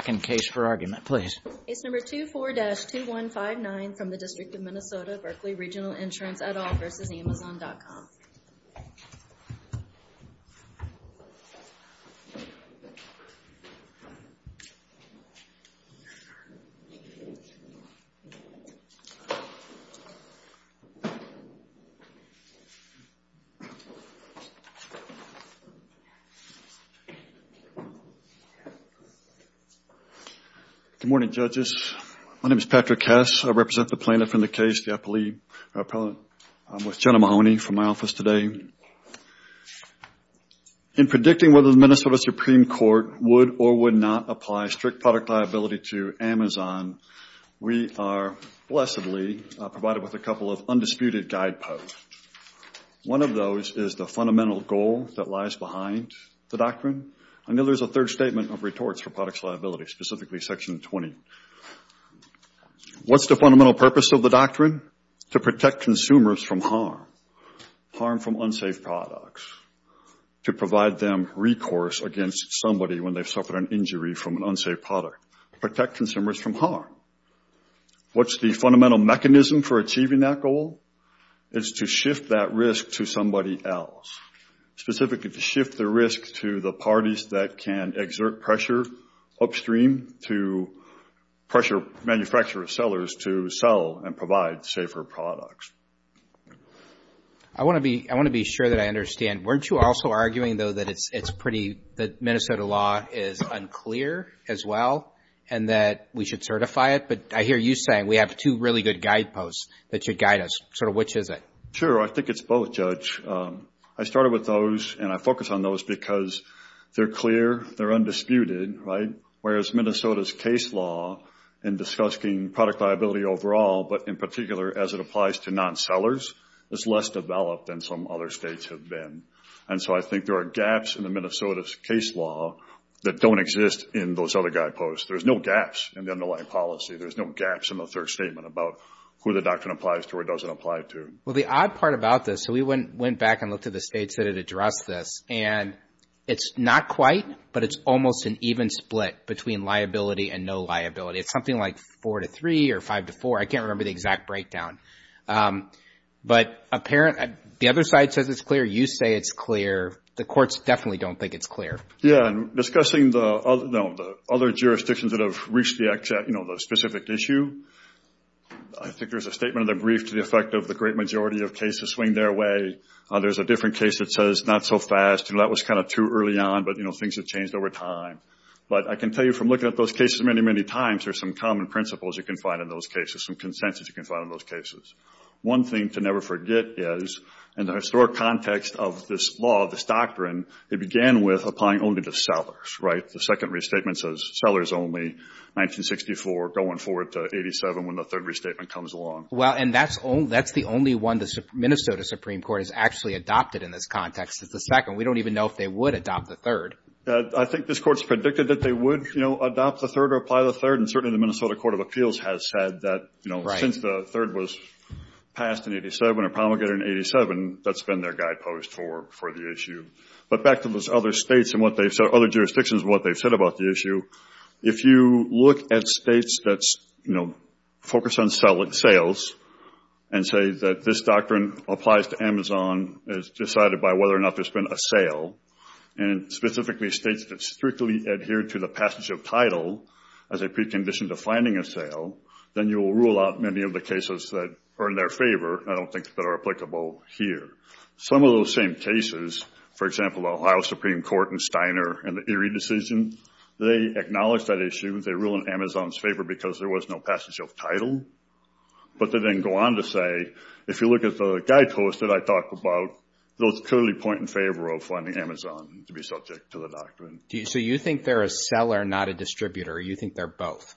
Case No. 24-2159 from the District of Minnesota, Berkley Regional Insurance et al. v. Amazon.com. Good morning, judges. My name is Patrick Hess. I represent the plaintiff in the case, the appellate. I'm with Jenna Mahoney from my office today. In predicting whether the Minnesota Supreme Court would or would not apply strict product liability to Amazon, we are blessedly provided with a couple of undisputed guideposts. One of those is the fundamental goal that lies behind the doctrine. Another is a third statement of retorts for product liability, specifically Section 20. What's the fundamental purpose of the doctrine? To protect consumers from harm. Harm from unsafe products. To provide them recourse against somebody when they've suffered an injury from an unsafe product. Protect consumers from harm. What's the fundamental mechanism for achieving that goal? It's to shift that risk to somebody else, specifically to shift the risk to the parties that can exert pressure upstream to pressure manufacturer sellers to sell and provide safer products. I want to be sure that I understand. Weren't you also arguing, though, that it's pretty – that Minnesota law is unclear as well and that we should certify it? But I hear you saying we have two really good guideposts that should guide us. Sort of which is it? Sure. I think it's both, Judge. I started with those and I focused on those because they're clear. They're undisputed, right? Whereas Minnesota's case law in discussing product liability overall, but in particular as it applies to non-sellers, is less developed than some other states have been. And so I think there are gaps in the Minnesota's case law that don't exist in those other guideposts. There's no gaps in the underlying policy. There's no gaps in the third statement about who the doctrine applies to or doesn't apply to. Well, the odd part about this – so we went back and looked at the states that had addressed this, and it's not quite, but it's almost an even split between liability and no liability. It's something like 4 to 3 or 5 to 4. I can't remember the exact breakdown. But the other side says it's clear. You say it's clear. The courts definitely don't think it's clear. Yeah. And discussing the other jurisdictions that have reached the specific issue, I think there's a statement in the brief to the effect of the great majority of cases swing their way. There's a different case that says not so fast. That was kind of too early on, but things have changed over time. But I can tell you from looking at those cases many, many times, there's some common principles you can find in those cases, some consensus you can find in those cases. One thing to never forget is, in the historic context of this law, this doctrine, it began with applying only to sellers, right? The 1964 going forward to 87 when the third restatement comes along. Well, and that's the only one the Minnesota Supreme Court has actually adopted in this context. It's the second. We don't even know if they would adopt the third. I think this court's predicted that they would adopt the third or apply the third, and certainly the Minnesota Court of Appeals has said that since the third was passed in 87 or promulgated in 87, that's been their guidepost for the issue. But back to those other states and other jurisdictions and what they've said about the issue, if you look at states that focus on sales and say that this doctrine applies to Amazon as decided by whether or not there's been a sale, and specifically states that strictly adhere to the passage of title as a precondition to finding a sale, then you will rule out many of the cases that are in their favor and I don't think that are applicable here. Some of those same cases, for example, the Ohio Supreme Court and Steiner and the Erie decision, they acknowledge that issue, they rule in Amazon's favor because there was no passage of title, but they then go on to say, if you look at the guidepost that I talked about, those clearly point in favor of finding Amazon to be subject to the doctrine. So you think they're a seller, not a distributor, or you think they're both?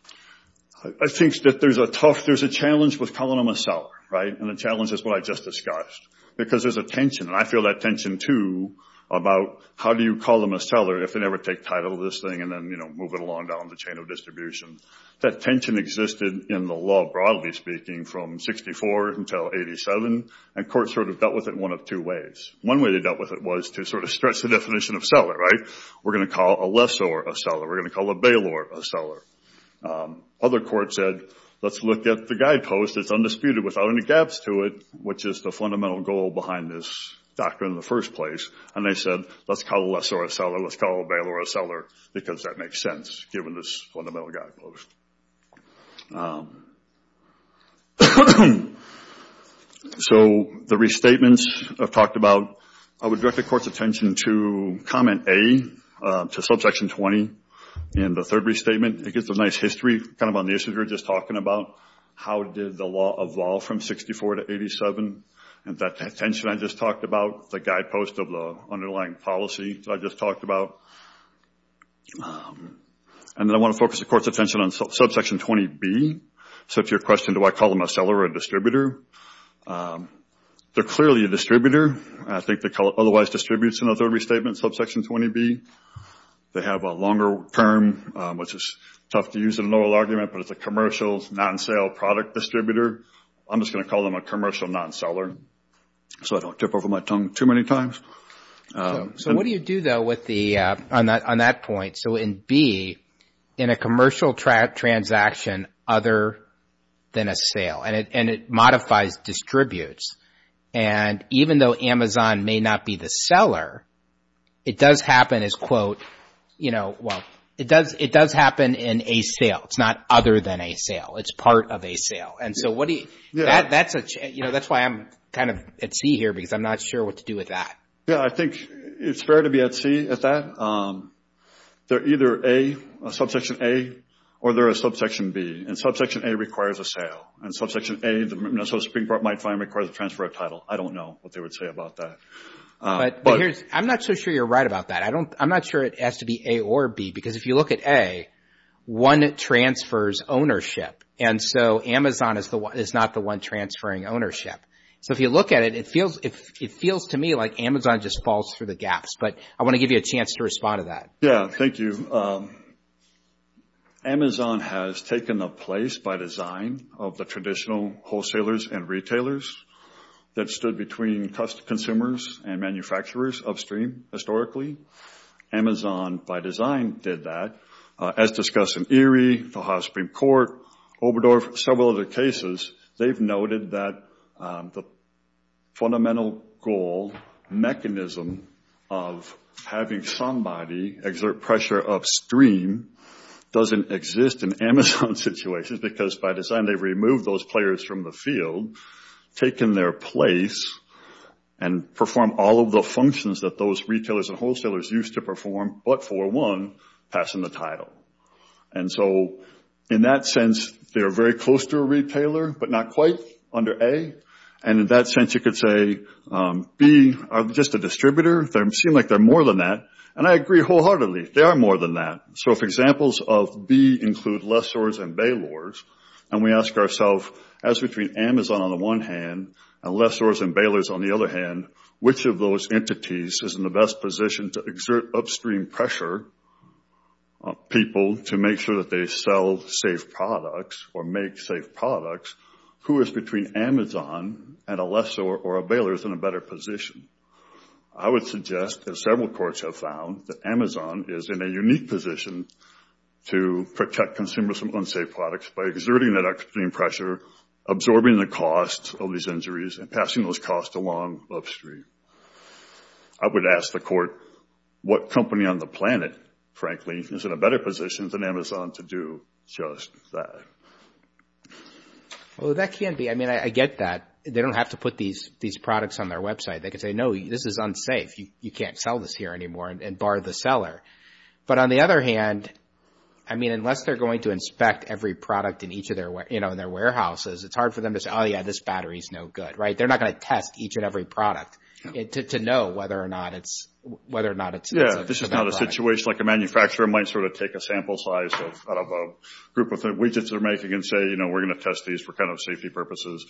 I think that there's a tough, there's a challenge with calling them a seller, right? And the challenge is what I just discussed, because there's a tension, and I feel that tension, too, about how do you call them a seller if they never take title of this thing and then move it along down the chain of distribution? That tension existed in the law, broadly speaking, from 64 until 87, and courts sort of dealt with it one of two ways. One way they dealt with it was to sort of stretch the definition of seller, right? We're going to call a lessor a seller, we're going to call a bailor a seller. Other courts said, let's look at the guidepost, it's undisputed without any gaps to it, which is the fundamental goal behind this doctrine in the first place. And they said, let's call a lessor a seller, let's call a bailor a seller, because that makes sense, given this fundamental guidepost. So the restatements I've talked about, I would direct the Court's attention to comment A to subsection 20 in the third restatement. It gives a nice history, kind of on the issues we were just talking about. How did the law evolve from 64 to 87? And that tension I just talked about, the guidepost of the underlying policy that I just talked about. And then I want to focus the Court's attention on subsection 20B. So if you're questioning, do I call them a seller or a distributor? They're clearly a distributor. I think they otherwise distribute in the third restatement, subsection 20B. They have a longer term, which is tough to use in an oral argument, but it's a commercial non-sale product distributor. I'm just going to call them a commercial non-seller, so I don't tip over my tongue too many times. So what do you do, though, on that point? So in B, in a commercial transaction other than a sale, and it modifies distributes. And even though Amazon may not be the seller, it does happen as, quote, you know, well, it does happen in a sale. It's not other than a sale. It's part of a sale. And so that's why I'm kind of at sea here because I'm not sure what to do with that. Yeah, I think it's fair to be at sea at that. They're either A, a subsection A, or they're a subsection B. And subsection A requires a sale. And subsection A, the Minnesota Supreme Court might find, requires a transfer of title. I don't know what they would say about that. I'm not so sure you're right about that. I'm not sure it has to be A or B because if you look at A, one transfers ownership. And so Amazon is not the one transferring ownership. So if you look at it, it feels to me like Amazon just falls through the gaps. But I want to give you a chance to respond to that. Yeah, thank you. Amazon has taken a place by design of the traditional wholesalers and retailers that stood between consumers and manufacturers upstream, historically. Amazon, by design, did that. As discussed in Erie, the House Supreme Court, Oberdorf, several other cases, they've noted that the fundamental goal, mechanism, of having somebody exert pressure upstream doesn't exist in Amazon situations because by design they've removed those players from the field, taken their place, and performed all of the functions that those retailers and wholesalers used to perform, but for one, passing the title. And so in that sense, they're very close to a retailer, but not quite under A. And in that sense, you could say B are just a distributor. They seem like they're more than that. And I agree wholeheartedly. They are more than that. So if examples of B include lessors and bailors, and we ask ourselves, as between Amazon on the one hand and lessors and bailors on the other hand, which of those entities is in the best position to exert upstream pressure on people to make sure that they sell safe products or make safe products, who is between Amazon and a lessor or a bailor is in a better position? I would suggest, as several courts have found, that Amazon is in a unique position to protect consumers from unsafe products by exerting that upstream pressure, absorbing the cost of these injuries, and passing those costs along upstream. I would ask the court, what company on the planet, frankly, is in a better position than Amazon to do just that? Well, that can be. I mean, I get that. They don't have to put these products on their website. They could say, no, this is unsafe. You can't sell this here anymore, and bar the seller. But on the other hand, I mean, it's hard for them to say, oh, yeah, this battery is no good, right? They're not going to test each and every product to know whether or not it's a bad product. Yeah, this is not a situation like a manufacturer might sort of take a sample size out of a group of widgets they're making and say, you know, we're going to test these for kind of safety purposes.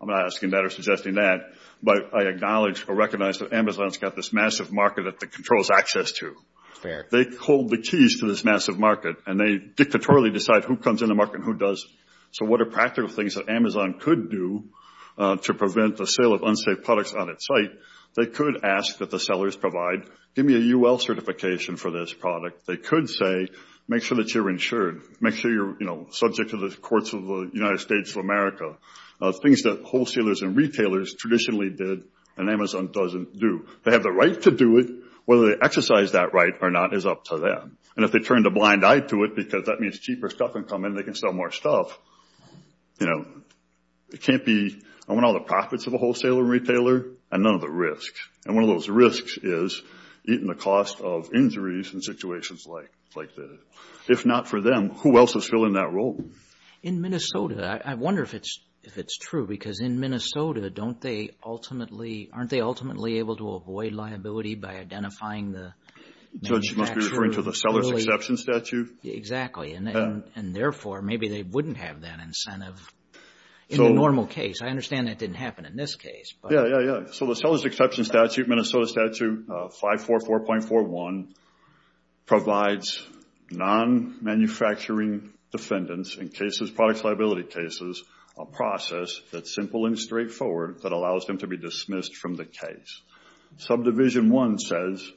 I'm not asking that or suggesting that. But I acknowledge or recognize that Amazon's got this massive market that it controls access to. Fair. They hold the keys to this massive market, and they dictatorially decide who comes in the market and who doesn't. So what are practical things that Amazon could do to prevent the sale of unsafe products on its site? They could ask that the sellers provide, give me a UL certification for this product. They could say, make sure that you're insured. Make sure you're, you know, subject to the courts of the United States of America. Things that wholesalers and retailers traditionally did and Amazon doesn't do. They have the right to do it. Whether they exercise that right or not is up to them. And if they turn a blind eye to it because that means cheaper stuff can come in, they can sell more stuff. You know, it can't be, I want all the profits of a wholesaler and retailer and none of the risks. And one of those risks is eating the cost of injuries in situations like this. If not for them, who else is filling that role? In Minnesota, I wonder if it's true because in Minnesota, don't they ultimately, aren't they ultimately able to avoid liability by identifying the manufacturer? Judge, you must be referring to the seller's exception statute? Exactly. And therefore, maybe they wouldn't have that incentive in a normal case. I understand that didn't happen in this case. Yeah, yeah, yeah. So the seller's exception statute, Minnesota Statute 544.41, provides non-manufacturing defendants in cases, product liability cases, a process that's simple and straightforward that allows them to be dismissed from the case. Subdivision 1 says,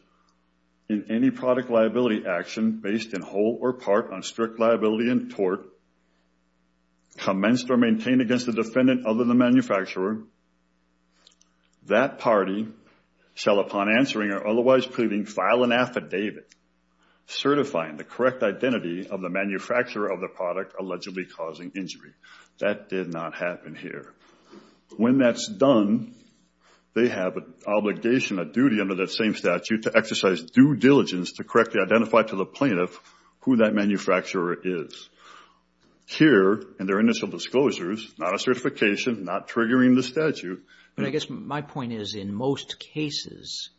in any product liability action based in whole or part on strict liability and tort, commenced or maintained against a defendant other than the manufacturer, that party shall, upon answering or otherwise pleading, file an affidavit certifying the correct identity of the manufacturer of the product allegedly causing injury. That did not happen here. When that's done, they have an obligation, a duty under that same statute, to exercise due diligence to correctly identify to the plaintiff who that manufacturer is. Here, in their initial disclosures, not a certification, not triggering the statute. But I guess my point is, in most cases,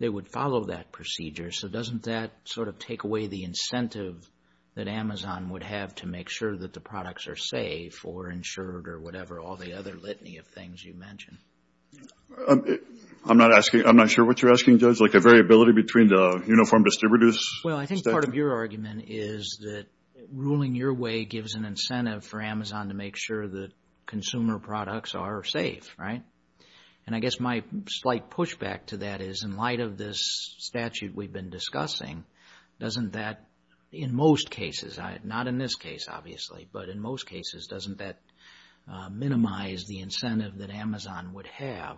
they would follow that procedure. So doesn't that sort of take away the incentive that Amazon would have to make sure that the products are safe or insured or whatever, all the other litany of things you mentioned? I'm not sure what you're asking, Judge, like a variability between the uniform distributors? Well, I think part of your argument is that ruling your way gives an incentive for Amazon to make sure that consumer products are safe, right? And I guess my slight pushback to that is, in light of this statute we've been discussing, doesn't that, in most cases, not in this case, obviously, but in most cases, doesn't that minimize the incentive that Amazon would have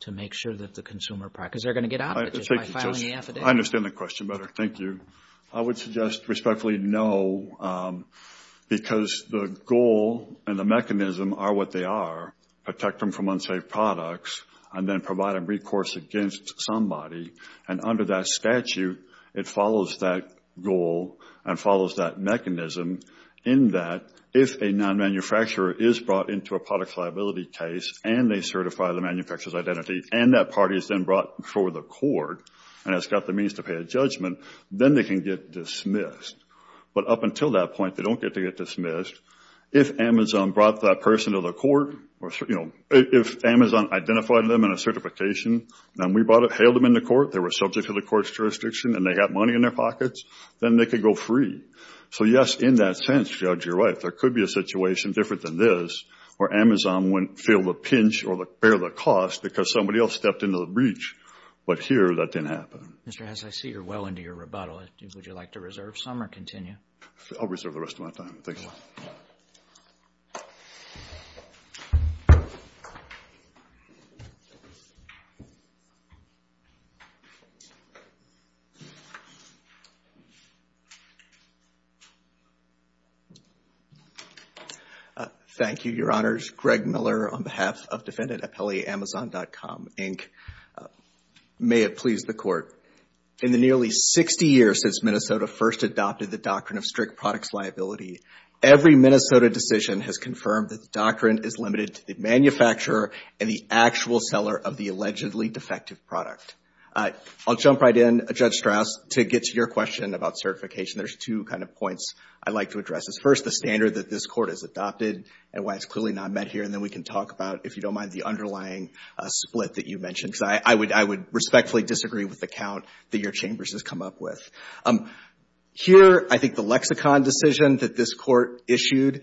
to make sure that the consumer products, because they're going to get out of it just by filing the affidavit. I understand the question better. Thank you. I would suggest respectfully no, because the goal and the mechanism are what they are, protect them from unsafe products and then provide a recourse against somebody. And under that statute, it follows that goal and follows that mechanism in that if a non-manufacturer is brought into a product liability case and they certify the manufacturer's identity and that party is then brought before the court and has got the means to pay a judgment, then they can get dismissed. But up until that point, they don't get to get dismissed. If Amazon brought that person to the court, if Amazon identified them in a certification and we held them in the court, they were subject to the court's jurisdiction and they got money in their pockets, then they could go free. So, yes, in that sense, Judge, you're right, there could be a situation different than this where Amazon wouldn't feel the pinch or bear the cost because somebody else stepped into the breach. But here, that didn't happen. Mr. Hess, I see you're well into your rebuttal. Would you like to reserve some or continue? I'll reserve the rest of my time. Thank you. Thank you. Thank you, Your Honors. Greg Miller on behalf of defendant Appelli, Amazon.com, Inc. May it please the Court. In the nearly 60 years since Minnesota first adopted the doctrine of strict products liability, every Minnesota decision has confirmed that the doctrine is limited to the manufacturer and the actual seller of the allegedly defective product. I'll jump right in, Judge Strauss, to get to your question about certification. There's two kind of points I'd like to address. First, the standard that this Court has adopted and why it's clearly not met here, and then we can talk about, if you don't mind, the underlying split that you mentioned. I would respectfully disagree with the count that your chambers has come up with. Here, I think the lexicon decision that this Court issued,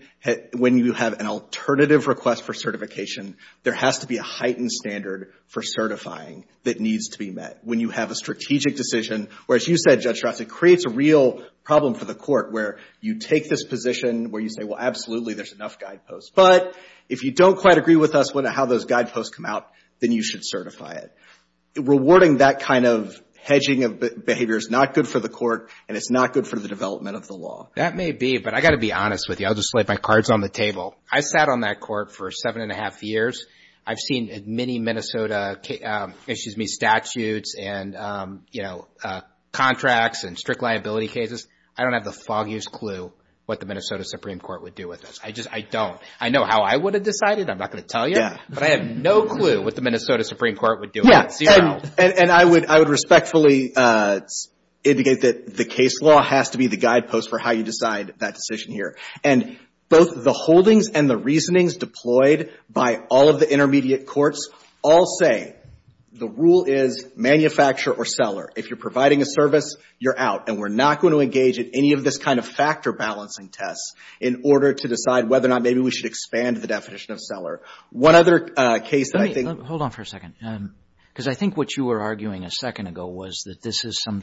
when you have an alternative request for certification, there has to be a heightened standard for certifying that needs to be met. When you have a strategic decision, where, as you said, Judge Strauss, it creates a real problem for the Court, where you take this position where you say, well, absolutely, there's enough guideposts. But if you don't quite agree with us on how those guideposts come out, then you should certify it. Rewarding that kind of hedging of behavior is not good for the Court, and it's not good for the development of the law. That may be, but I've got to be honest with you. I'll just lay my cards on the table. I sat on that Court for seven and a half years. I've seen many Minnesota statutes and contracts and strict liability cases. I don't have the foggiest clue what the Minnesota Supreme Court would do with this. I don't. I know how I would have decided. I'm not going to tell you, but I have no clue what the Minnesota Supreme Court would do with it. And I would respectfully indicate that the case law has to be the guidepost for how you decide that decision here. And both the holdings and the reasonings deployed by all of the intermediate courts all say the rule is manufacturer or seller. If you're providing a service, you're out. And we're not going to engage in any of this kind of factor-balancing tests in order to decide whether or not maybe we should expand the definition of seller. One other case that I think... I think what you were arguing a second ago was that this is some...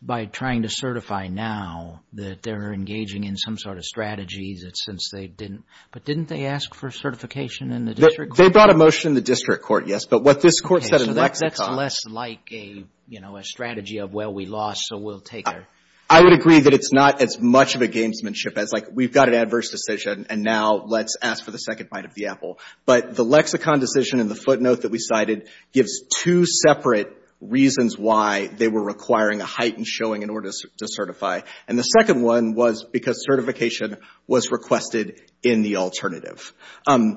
By trying to certify now that they're engaging in some sort of strategy that since they didn't... But didn't they ask for certification in the district court? They brought a motion in the district court, yes. But what this Court said in Lexicon... Okay, so that's less like a, you know, a strategy of, well, we lost, so we'll take it. I would agree that it's not as much of a gamesmanship as, like, we've got an adverse decision and now let's ask for the second bite of the apple. But the Lexicon decision in the footnote that we cited gives two separate reasons why they were requiring a heightened showing in order to certify. And the second one was because certification was requested in the alternative. I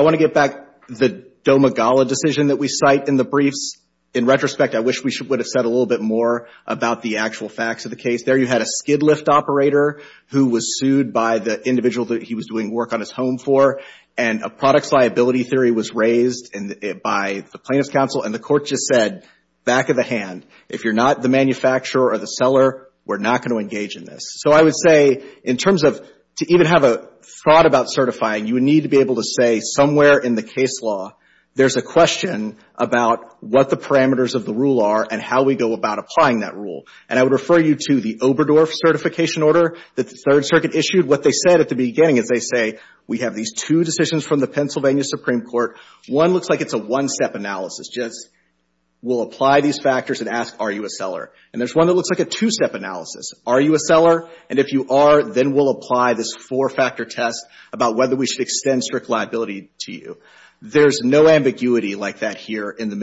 want to get back to the DOMA-GALA decision that we cite in the briefs. In retrospect, I wish we would have said a little bit more about the actual facts of the case. There you had a skid-lift operator who was sued by the individual that he was doing work on his home for, and a products liability theory was raised by the plaintiff's counsel, and the court just said, back of the hand, if you're not the manufacturer or the seller, we're not going to engage in this. So I would say, in terms of, to even have a thought about certifying, you would need to be able to say somewhere in the case law there's a question about what the parameters of the rule are and how we go about applying that rule. And I would refer you to the Oberdorf certification order that the Third Circuit issued. What they said at the beginning is they say, we have these two decisions from the Pennsylvania Supreme Court. One looks like it's a one-step analysis. Just, we'll apply these factors and ask, are you a seller? And there's one that looks like a two-step analysis. Are you a seller? And if you are, then we'll apply this four-factor test about whether we should extend strict liability to you. There's no ambiguity like that here in the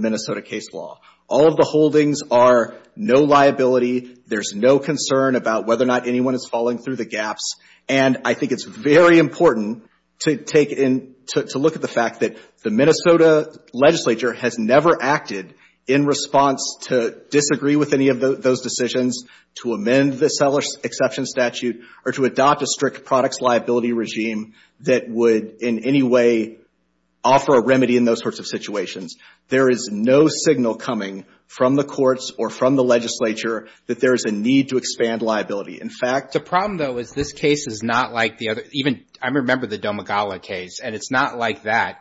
Minnesota case law. All of the holdings are no liability. There's no concern about whether or not anyone is falling through the gaps. And I think it's very important to take in, to look at the fact that the Minnesota legislature has never acted in response to disagree with any of those decisions, to amend the seller exception statute, or to adopt a strict products liability regime that would in any way offer a remedy in those sorts of situations. There is no signal coming from the courts or from the legislature that there is a need to expand liability. In fact, the problem, though, is this case is not like the other. Even, I remember the Domegala case, and it's not like that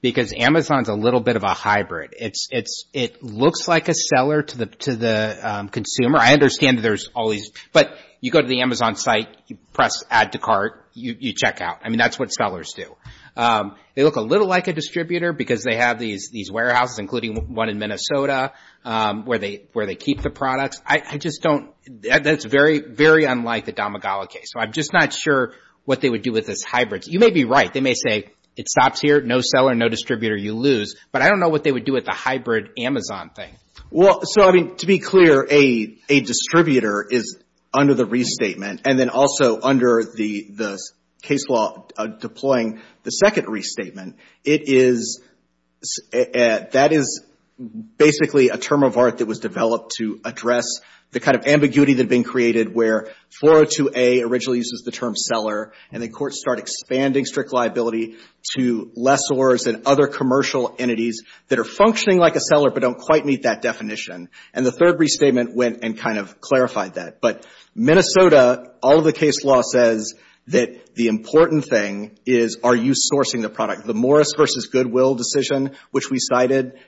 because Amazon's a little bit of a hybrid. It looks like a seller to the consumer. I understand that there's always, but you go to the Amazon site, you press add to cart, you check out. I mean, that's what sellers do. They look a little like a distributor because they have these warehouses, including one in Minnesota, where they keep the products. I just don't, that's very, very unlike the Domegala case. So I'm just not sure what they would do with this hybrid. You may be right. They may say it stops here, no seller, no distributor, you lose. But I don't know what they would do with the hybrid Amazon thing. Well, so, I mean, to be clear, a distributor is under the restatement, and then also under the case law deploying the second restatement. It is, that is basically a term of art that was developed to address the kind of ambiguity that had been created where 402A originally uses the term seller, and then courts start expanding strict liability to lessors and other commercial entities that are functioning like a seller but don't quite meet that definition. And the third restatement went and kind of clarified that. But Minnesota, all of the case law says that the important thing is, are you sourcing the product? The Morris v. Goodwill decision, which we cited,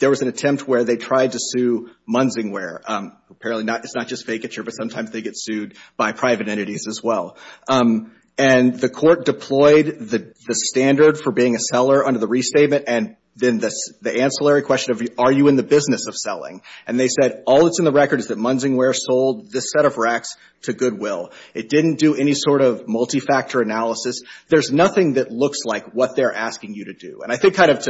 there was an attempt where they tried to sue Munsingware. Apparently, it's not just vacature, but sometimes they get sued by private entities as well. And the court deployed the standard for being a seller under the restatement and then the ancillary question of, are you in the business of selling? And they said, all that's in the record is that Munsingware sold this set of racks to Goodwill. It didn't do any sort of multi-factor analysis. There's nothing that looks like what they're asking you to do. And I think kind of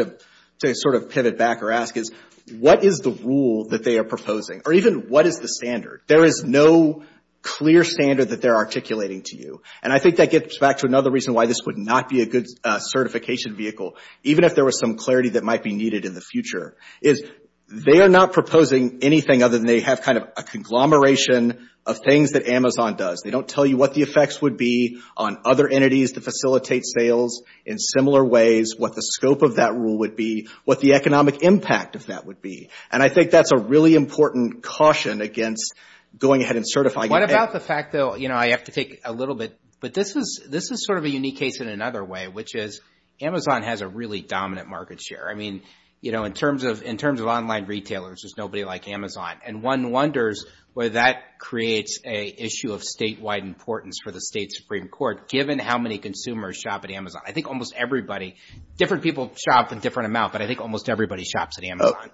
to sort of pivot back or ask is, what is the rule that they are proposing? Or even what is the standard? There is no clear standard that they're articulating to you. And I think that gets back to another reason why this would not be a good certification vehicle, even if there was some clarity that might be needed in the future, is they are not proposing anything other than they have kind of a conglomeration of things that Amazon does. They don't tell you what the effects would be on other entities that facilitate sales in similar ways, what the scope of that rule would be, what the economic impact of that would be. And I think that's a really important caution against going ahead and certifying. What about the fact, though, you know, I have to take a little bit, but this is sort of a unique case in another way, which is Amazon has a really dominant market share. I mean, you know, in terms of online retailers, there's nobody like Amazon. And one wonders whether that creates an issue of statewide importance for the State Supreme Court, given how many consumers shop at Amazon. I think almost everybody, different people shop in different amounts, but I think almost everybody shops at Amazon.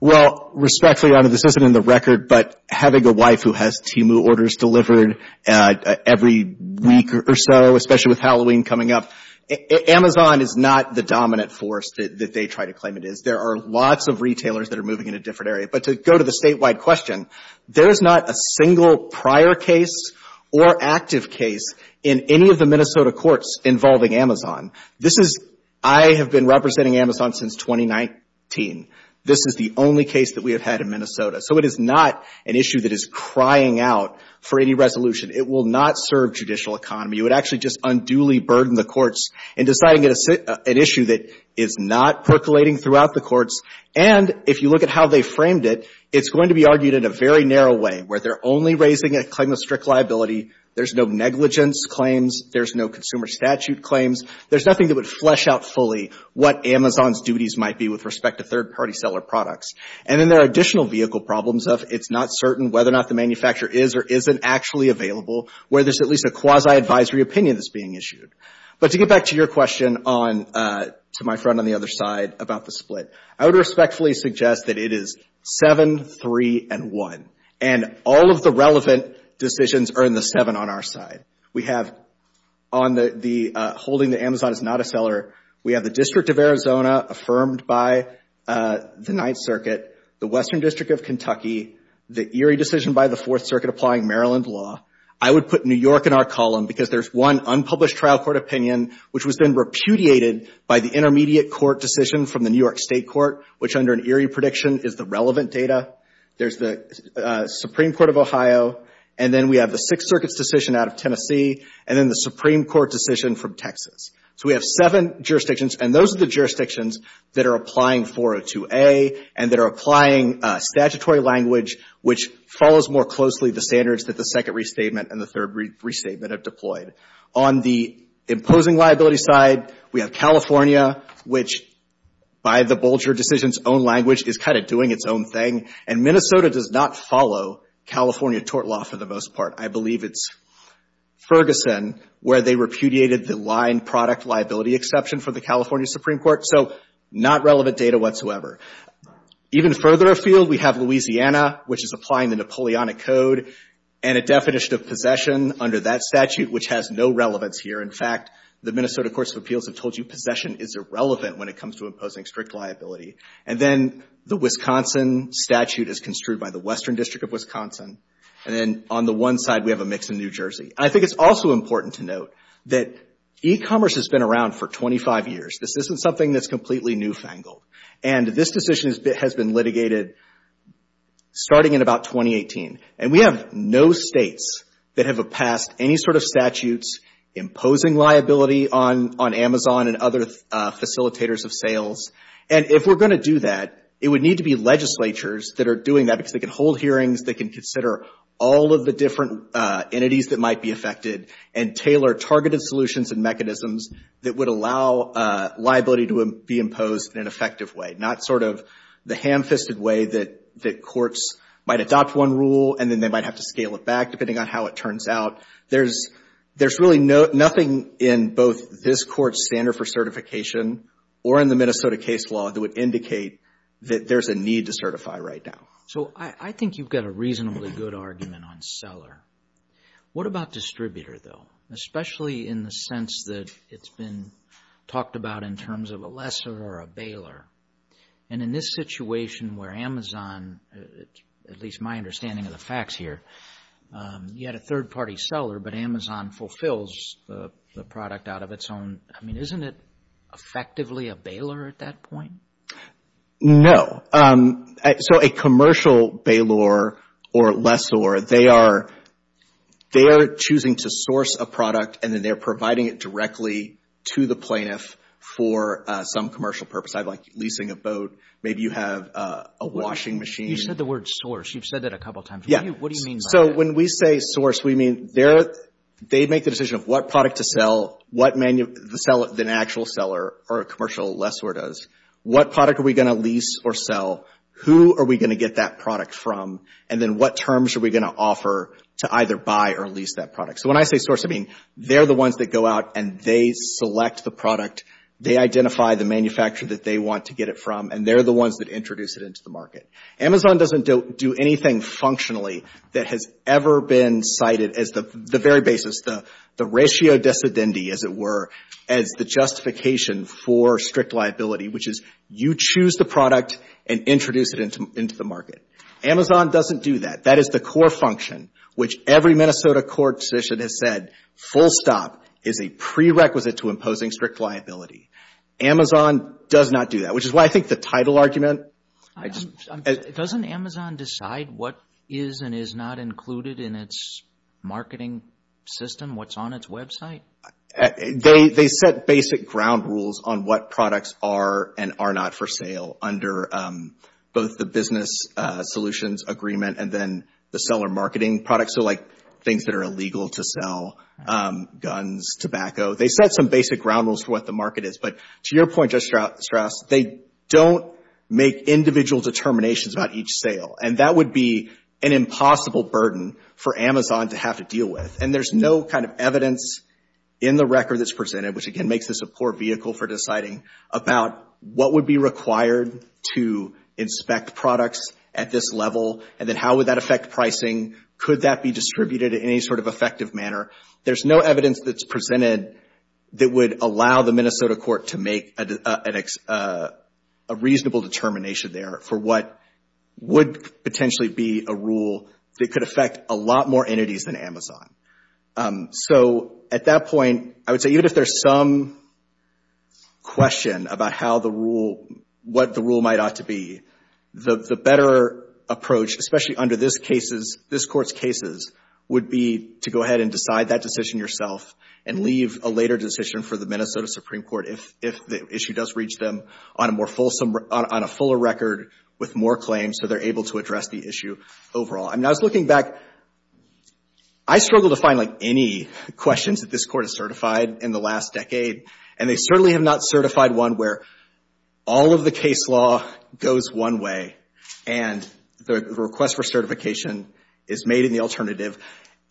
Well, respectfully, Your Honor, this isn't in the record, but having a wife who has Timu orders delivered every week or so, especially with Halloween coming up, Amazon is not the dominant force that they try to claim it is. There are lots of retailers that are moving in a different area. But to go to the statewide question, there is not a single prior case or active case in any of the Minnesota courts involving Amazon. This is, I have been representing Amazon since 2019. This is the only case that we have had in Minnesota. So it is not an issue that is crying out for any resolution. It will not serve judicial economy. It would actually just unduly burden the courts in deciding an issue that is not percolating throughout the courts. And if you look at how they framed it, it is going to be argued in a very narrow way, where they are only raising a claim of strict liability. There is no negligence claims. There is no consumer statute claims. There is nothing that would flesh out fully what Amazon's duties might be with respect to third-party seller products. And then there are additional vehicle problems of it is not certain whether or not the manufacturer is or isn't actually available, where there is at least a quasi-advisory opinion that is being issued. But to get back to your question to my friend on the other side about the split, I would respectfully suggest that it is 7, 3, and 1. And all of the relevant decisions are in the 7 on our side. We have on the holding that Amazon is not a seller, we have the District of Arizona affirmed by the Ninth Circuit, the Western District of Kentucky, the Erie decision by the Fourth Circuit applying Maryland law. I would put New York in our column because there is one unpublished trial court opinion which was then repudiated by the intermediate court decision from the New York State Court, which under an Erie prediction is the relevant data. There is the Supreme Court of Ohio, and then we have the Sixth Circuit's decision out of Tennessee, and then the Supreme Court decision from Texas. So we have seven jurisdictions, and those are the jurisdictions that are applying 402A and that are applying statutory language, which follows more closely the standards that the second restatement and the third restatement have deployed. On the imposing liability side, we have California, which by the Bolger decision's own language is kind of doing its own thing, and Minnesota does not follow California tort law for the most part. I believe it's Ferguson where they repudiated the line product liability exception for the California Supreme Court. So not relevant data whatsoever. Even further afield, we have Louisiana, which is applying the Napoleonic Code, and a definition of possession under that statute, which has no relevance here. In fact, the Minnesota Courts of Appeals have told you possession is irrelevant when it comes to imposing strict liability, and then the Wisconsin statute is construed by the Western District of Wisconsin, and then on the one side we have a mix in New Jersey. I think it's also important to note that e-commerce has been around for 25 years. This isn't something that's completely newfangled, and this decision has been litigated starting in about 2018, and we have no states that have passed any sort of statutes imposing liability on Amazon and other facilitators of sales. And if we're going to do that, it would need to be legislatures that are doing that because they can hold hearings, they can consider all of the different entities that might be affected and tailor targeted solutions and mechanisms that would allow liability to be imposed in an effective way, not sort of the ham-fisted way that courts might adopt one rule and then they might have to scale it back depending on how it turns out. There's really nothing in both this court's standard for certification or in the Minnesota case law that would indicate that there's a need to certify right now. So I think you've got a reasonably good argument on seller. What about distributor, though, especially in the sense that it's been talked about in terms of a lessor or a baler? And in this situation where Amazon, at least my understanding of the facts here, you had a third-party seller, but Amazon fulfills the product out of its own, I mean, isn't it effectively a baler at that point? No. So a commercial baler or lessor, they are choosing to source a product and then they're providing it directly to the plaintiff for some commercial purpose. I'd like leasing a boat. Maybe you have a washing machine. You said the word source. You've said that a couple of times. Yeah. What do you mean by that? So when we say source, we mean they make the decision of what product to sell, what the actual seller or a commercial lessor does. What product are we going to lease or sell? Who are we going to get that product from? And then what terms are we going to offer to either buy or lease that product? So when I say source, I mean they're the ones that go out and they select the product, they identify the manufacturer that they want to get it from, and they're the ones that introduce it into the market. Amazon doesn't do anything functionally that has ever been cited as the very basis, the ratio dissidenti, as it were, as the justification for strict liability, which is you choose the product and introduce it into the market. Amazon doesn't do that. That is the core function, which every Minnesota court decision has said, full stop is a prerequisite to imposing strict liability. Amazon does not do that, which is why I think the title argument— Doesn't Amazon decide what is and is not included in its marketing system, what's on its website? They set basic ground rules on what products are and are not for sale under both the business solutions agreement and then the seller marketing products, so like things that are illegal to sell, guns, tobacco. They set some basic ground rules for what the market is, but to your point, Judge Strauss, they don't make individual determinations about each sale, and that would be an impossible burden for Amazon to have to deal with, and there's no kind of evidence in the record that's presented, which again makes this a poor vehicle for deciding, about what would be required to inspect products at this level, and then how would that affect pricing? Could that be distributed in any sort of effective manner? There's no evidence that's presented that would allow the Minnesota court to make a reasonable determination there for what would potentially be a rule that could affect a lot more entities than Amazon. So at that point, I would say even if there's some question about what the rule might ought to be, the better approach, especially under this court's cases, would be to go ahead and decide that decision yourself and leave a later decision for the Minnesota Supreme Court if the issue does reach them on a fuller record with more claims so they're able to address the issue overall. I mean, I was looking back. I struggle to find like any questions that this court has certified in the last decade, and they certainly have not certified one where all of the case law goes one way and the request for certification is made in the alternative.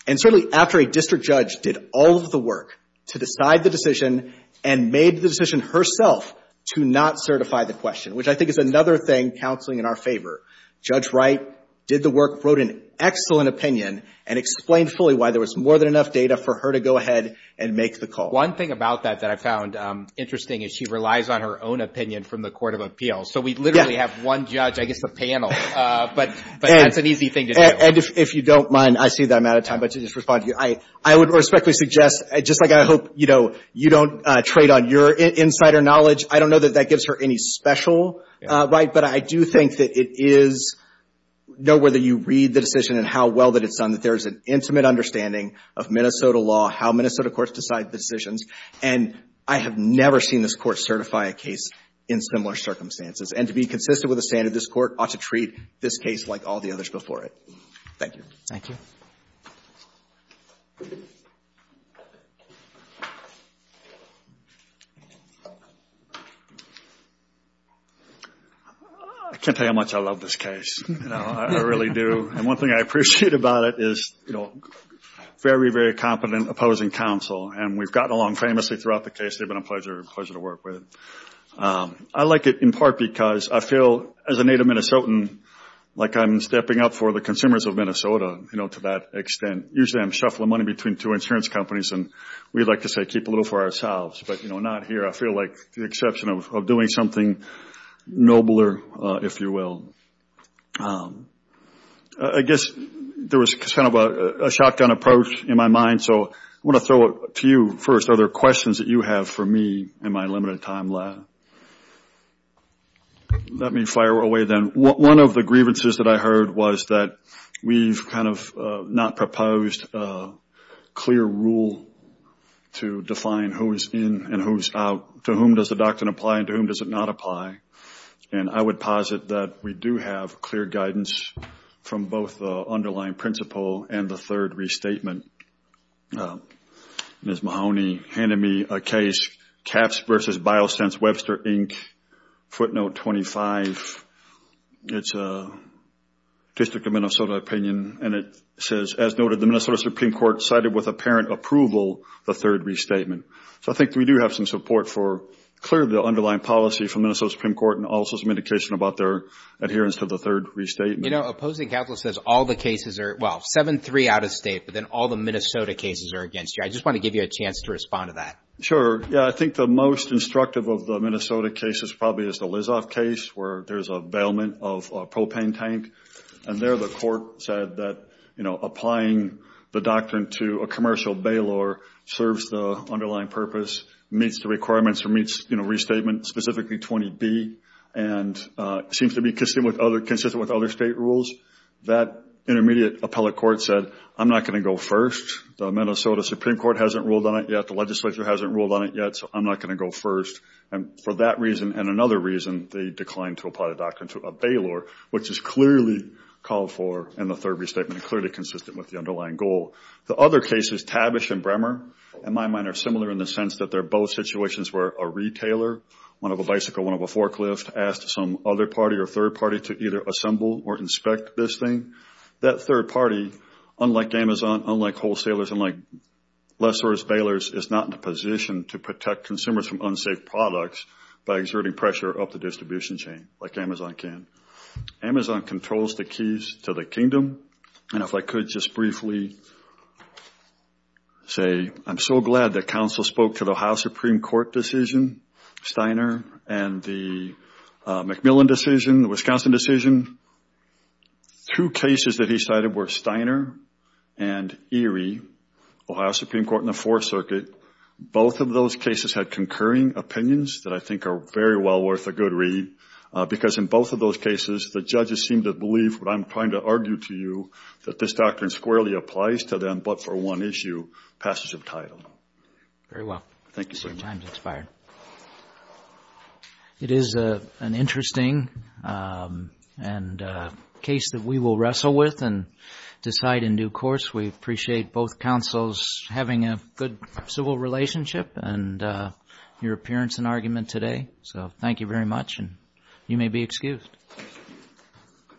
And certainly after a district judge did all of the work to decide the decision and made the decision herself to not certify the question, which I think is another thing counseling in our favor. Judge Wright did the work, wrote an excellent opinion, and explained fully why there was more than enough data for her to go ahead and make the call. One thing about that that I found interesting is she relies on her own opinion from the court of appeals. So we literally have one judge, I guess a panel, but that's an easy thing to do. And if you don't mind, I see that I'm out of time, but to just respond to you, I would respectfully suggest, just like I hope you don't trade on your insider knowledge, I don't know that that gives her any special right, but I do think that it is know whether you read the decision and how well that it's done that there is an intimate understanding of Minnesota law, how Minnesota courts decide the decisions, and I have never seen this court certify a case in similar circumstances. And to be consistent with the standard, this court ought to treat this case like all the others before it. Thank you. Thank you. I can't tell you how much I love this case. I really do. And one thing I appreciate about it is very, very competent opposing counsel, and we've gotten along famously throughout the case. They've been a pleasure to work with. I like it in part because I feel, as a native Minnesotan, like I'm stepping up for the consumers of Minnesota, you know, to that extent. Usually I'm shuffling money between two insurance companies, and we like to say keep a little for ourselves. But, you know, not here. I feel like the exception of doing something nobler, if you will. I guess there was kind of a shotgun approach in my mind, so I want to throw a few first other questions that you have for me in my limited time left. Let me fire away then. One of the grievances that I heard was that we've kind of not proposed a clear rule to define who is in and who is out, to whom does the doctrine apply and to whom does it not apply. And I would posit that we do have clear guidance from both the underlying principle and the third restatement. Ms. Mahoney handed me a case, Caps v. Biosense, Webster, Inc., footnote 25. It's a district of Minnesota opinion, and it says, as noted the Minnesota Supreme Court cited with apparent approval the third restatement. So I think we do have some support for clearly the underlying policy from the Minnesota Supreme Court and also some indication about their adherence to the third restatement. You know, opposing counsel says all the cases are, well, seven-three out of state, but then all the Minnesota cases are against you. I just want to give you a chance to respond to that. Sure. Yeah, I think the most instructive of the Minnesota cases probably is the Lizoff case where there's a bailment of a propane tank, and there the court said that applying the doctrine to a commercial bailor serves the underlying purpose, meets the requirements, meets restatement, specifically 20B, and seems to be consistent with other state rules. That intermediate appellate court said, I'm not going to go first. The Minnesota Supreme Court hasn't ruled on it yet. The legislature hasn't ruled on it yet, so I'm not going to go first. And for that reason and another reason, they declined to apply the doctrine to a bailor, which is clearly called for in the third restatement and clearly consistent with the underlying goal. The other cases, Tabish and Bremer, in my mind, are similar in the sense that they're both situations where a retailer, one of a bicycle, one of a forklift, asked some other party or third party to either assemble or inspect this thing. That third party, unlike Amazon, unlike wholesalers, unlike lessors, bailors is not in a position to protect consumers from unsafe products by exerting pressure up the distribution chain like Amazon can. Amazon controls the keys to the kingdom. And if I could just briefly say, I'm so glad that counsel spoke to the Ohio Supreme Court decision Steiner and the McMillan decision, the Wisconsin decision. Two cases that he cited were Steiner and Erie, Ohio Supreme Court in the Fourth Circuit. Both of those cases had concurring opinions that I think are very well worth a good read because in both of those cases, the judges seem to believe what I'm trying to argue to you, that this doctrine squarely applies to them but for one issue, passage of title. Very well. Thank you, sir. Your time has expired. It is an interesting case that we will wrestle with and decide in due course. We appreciate both counsels having a good civil relationship and your appearance and argument today. So thank you very much and you may be excused.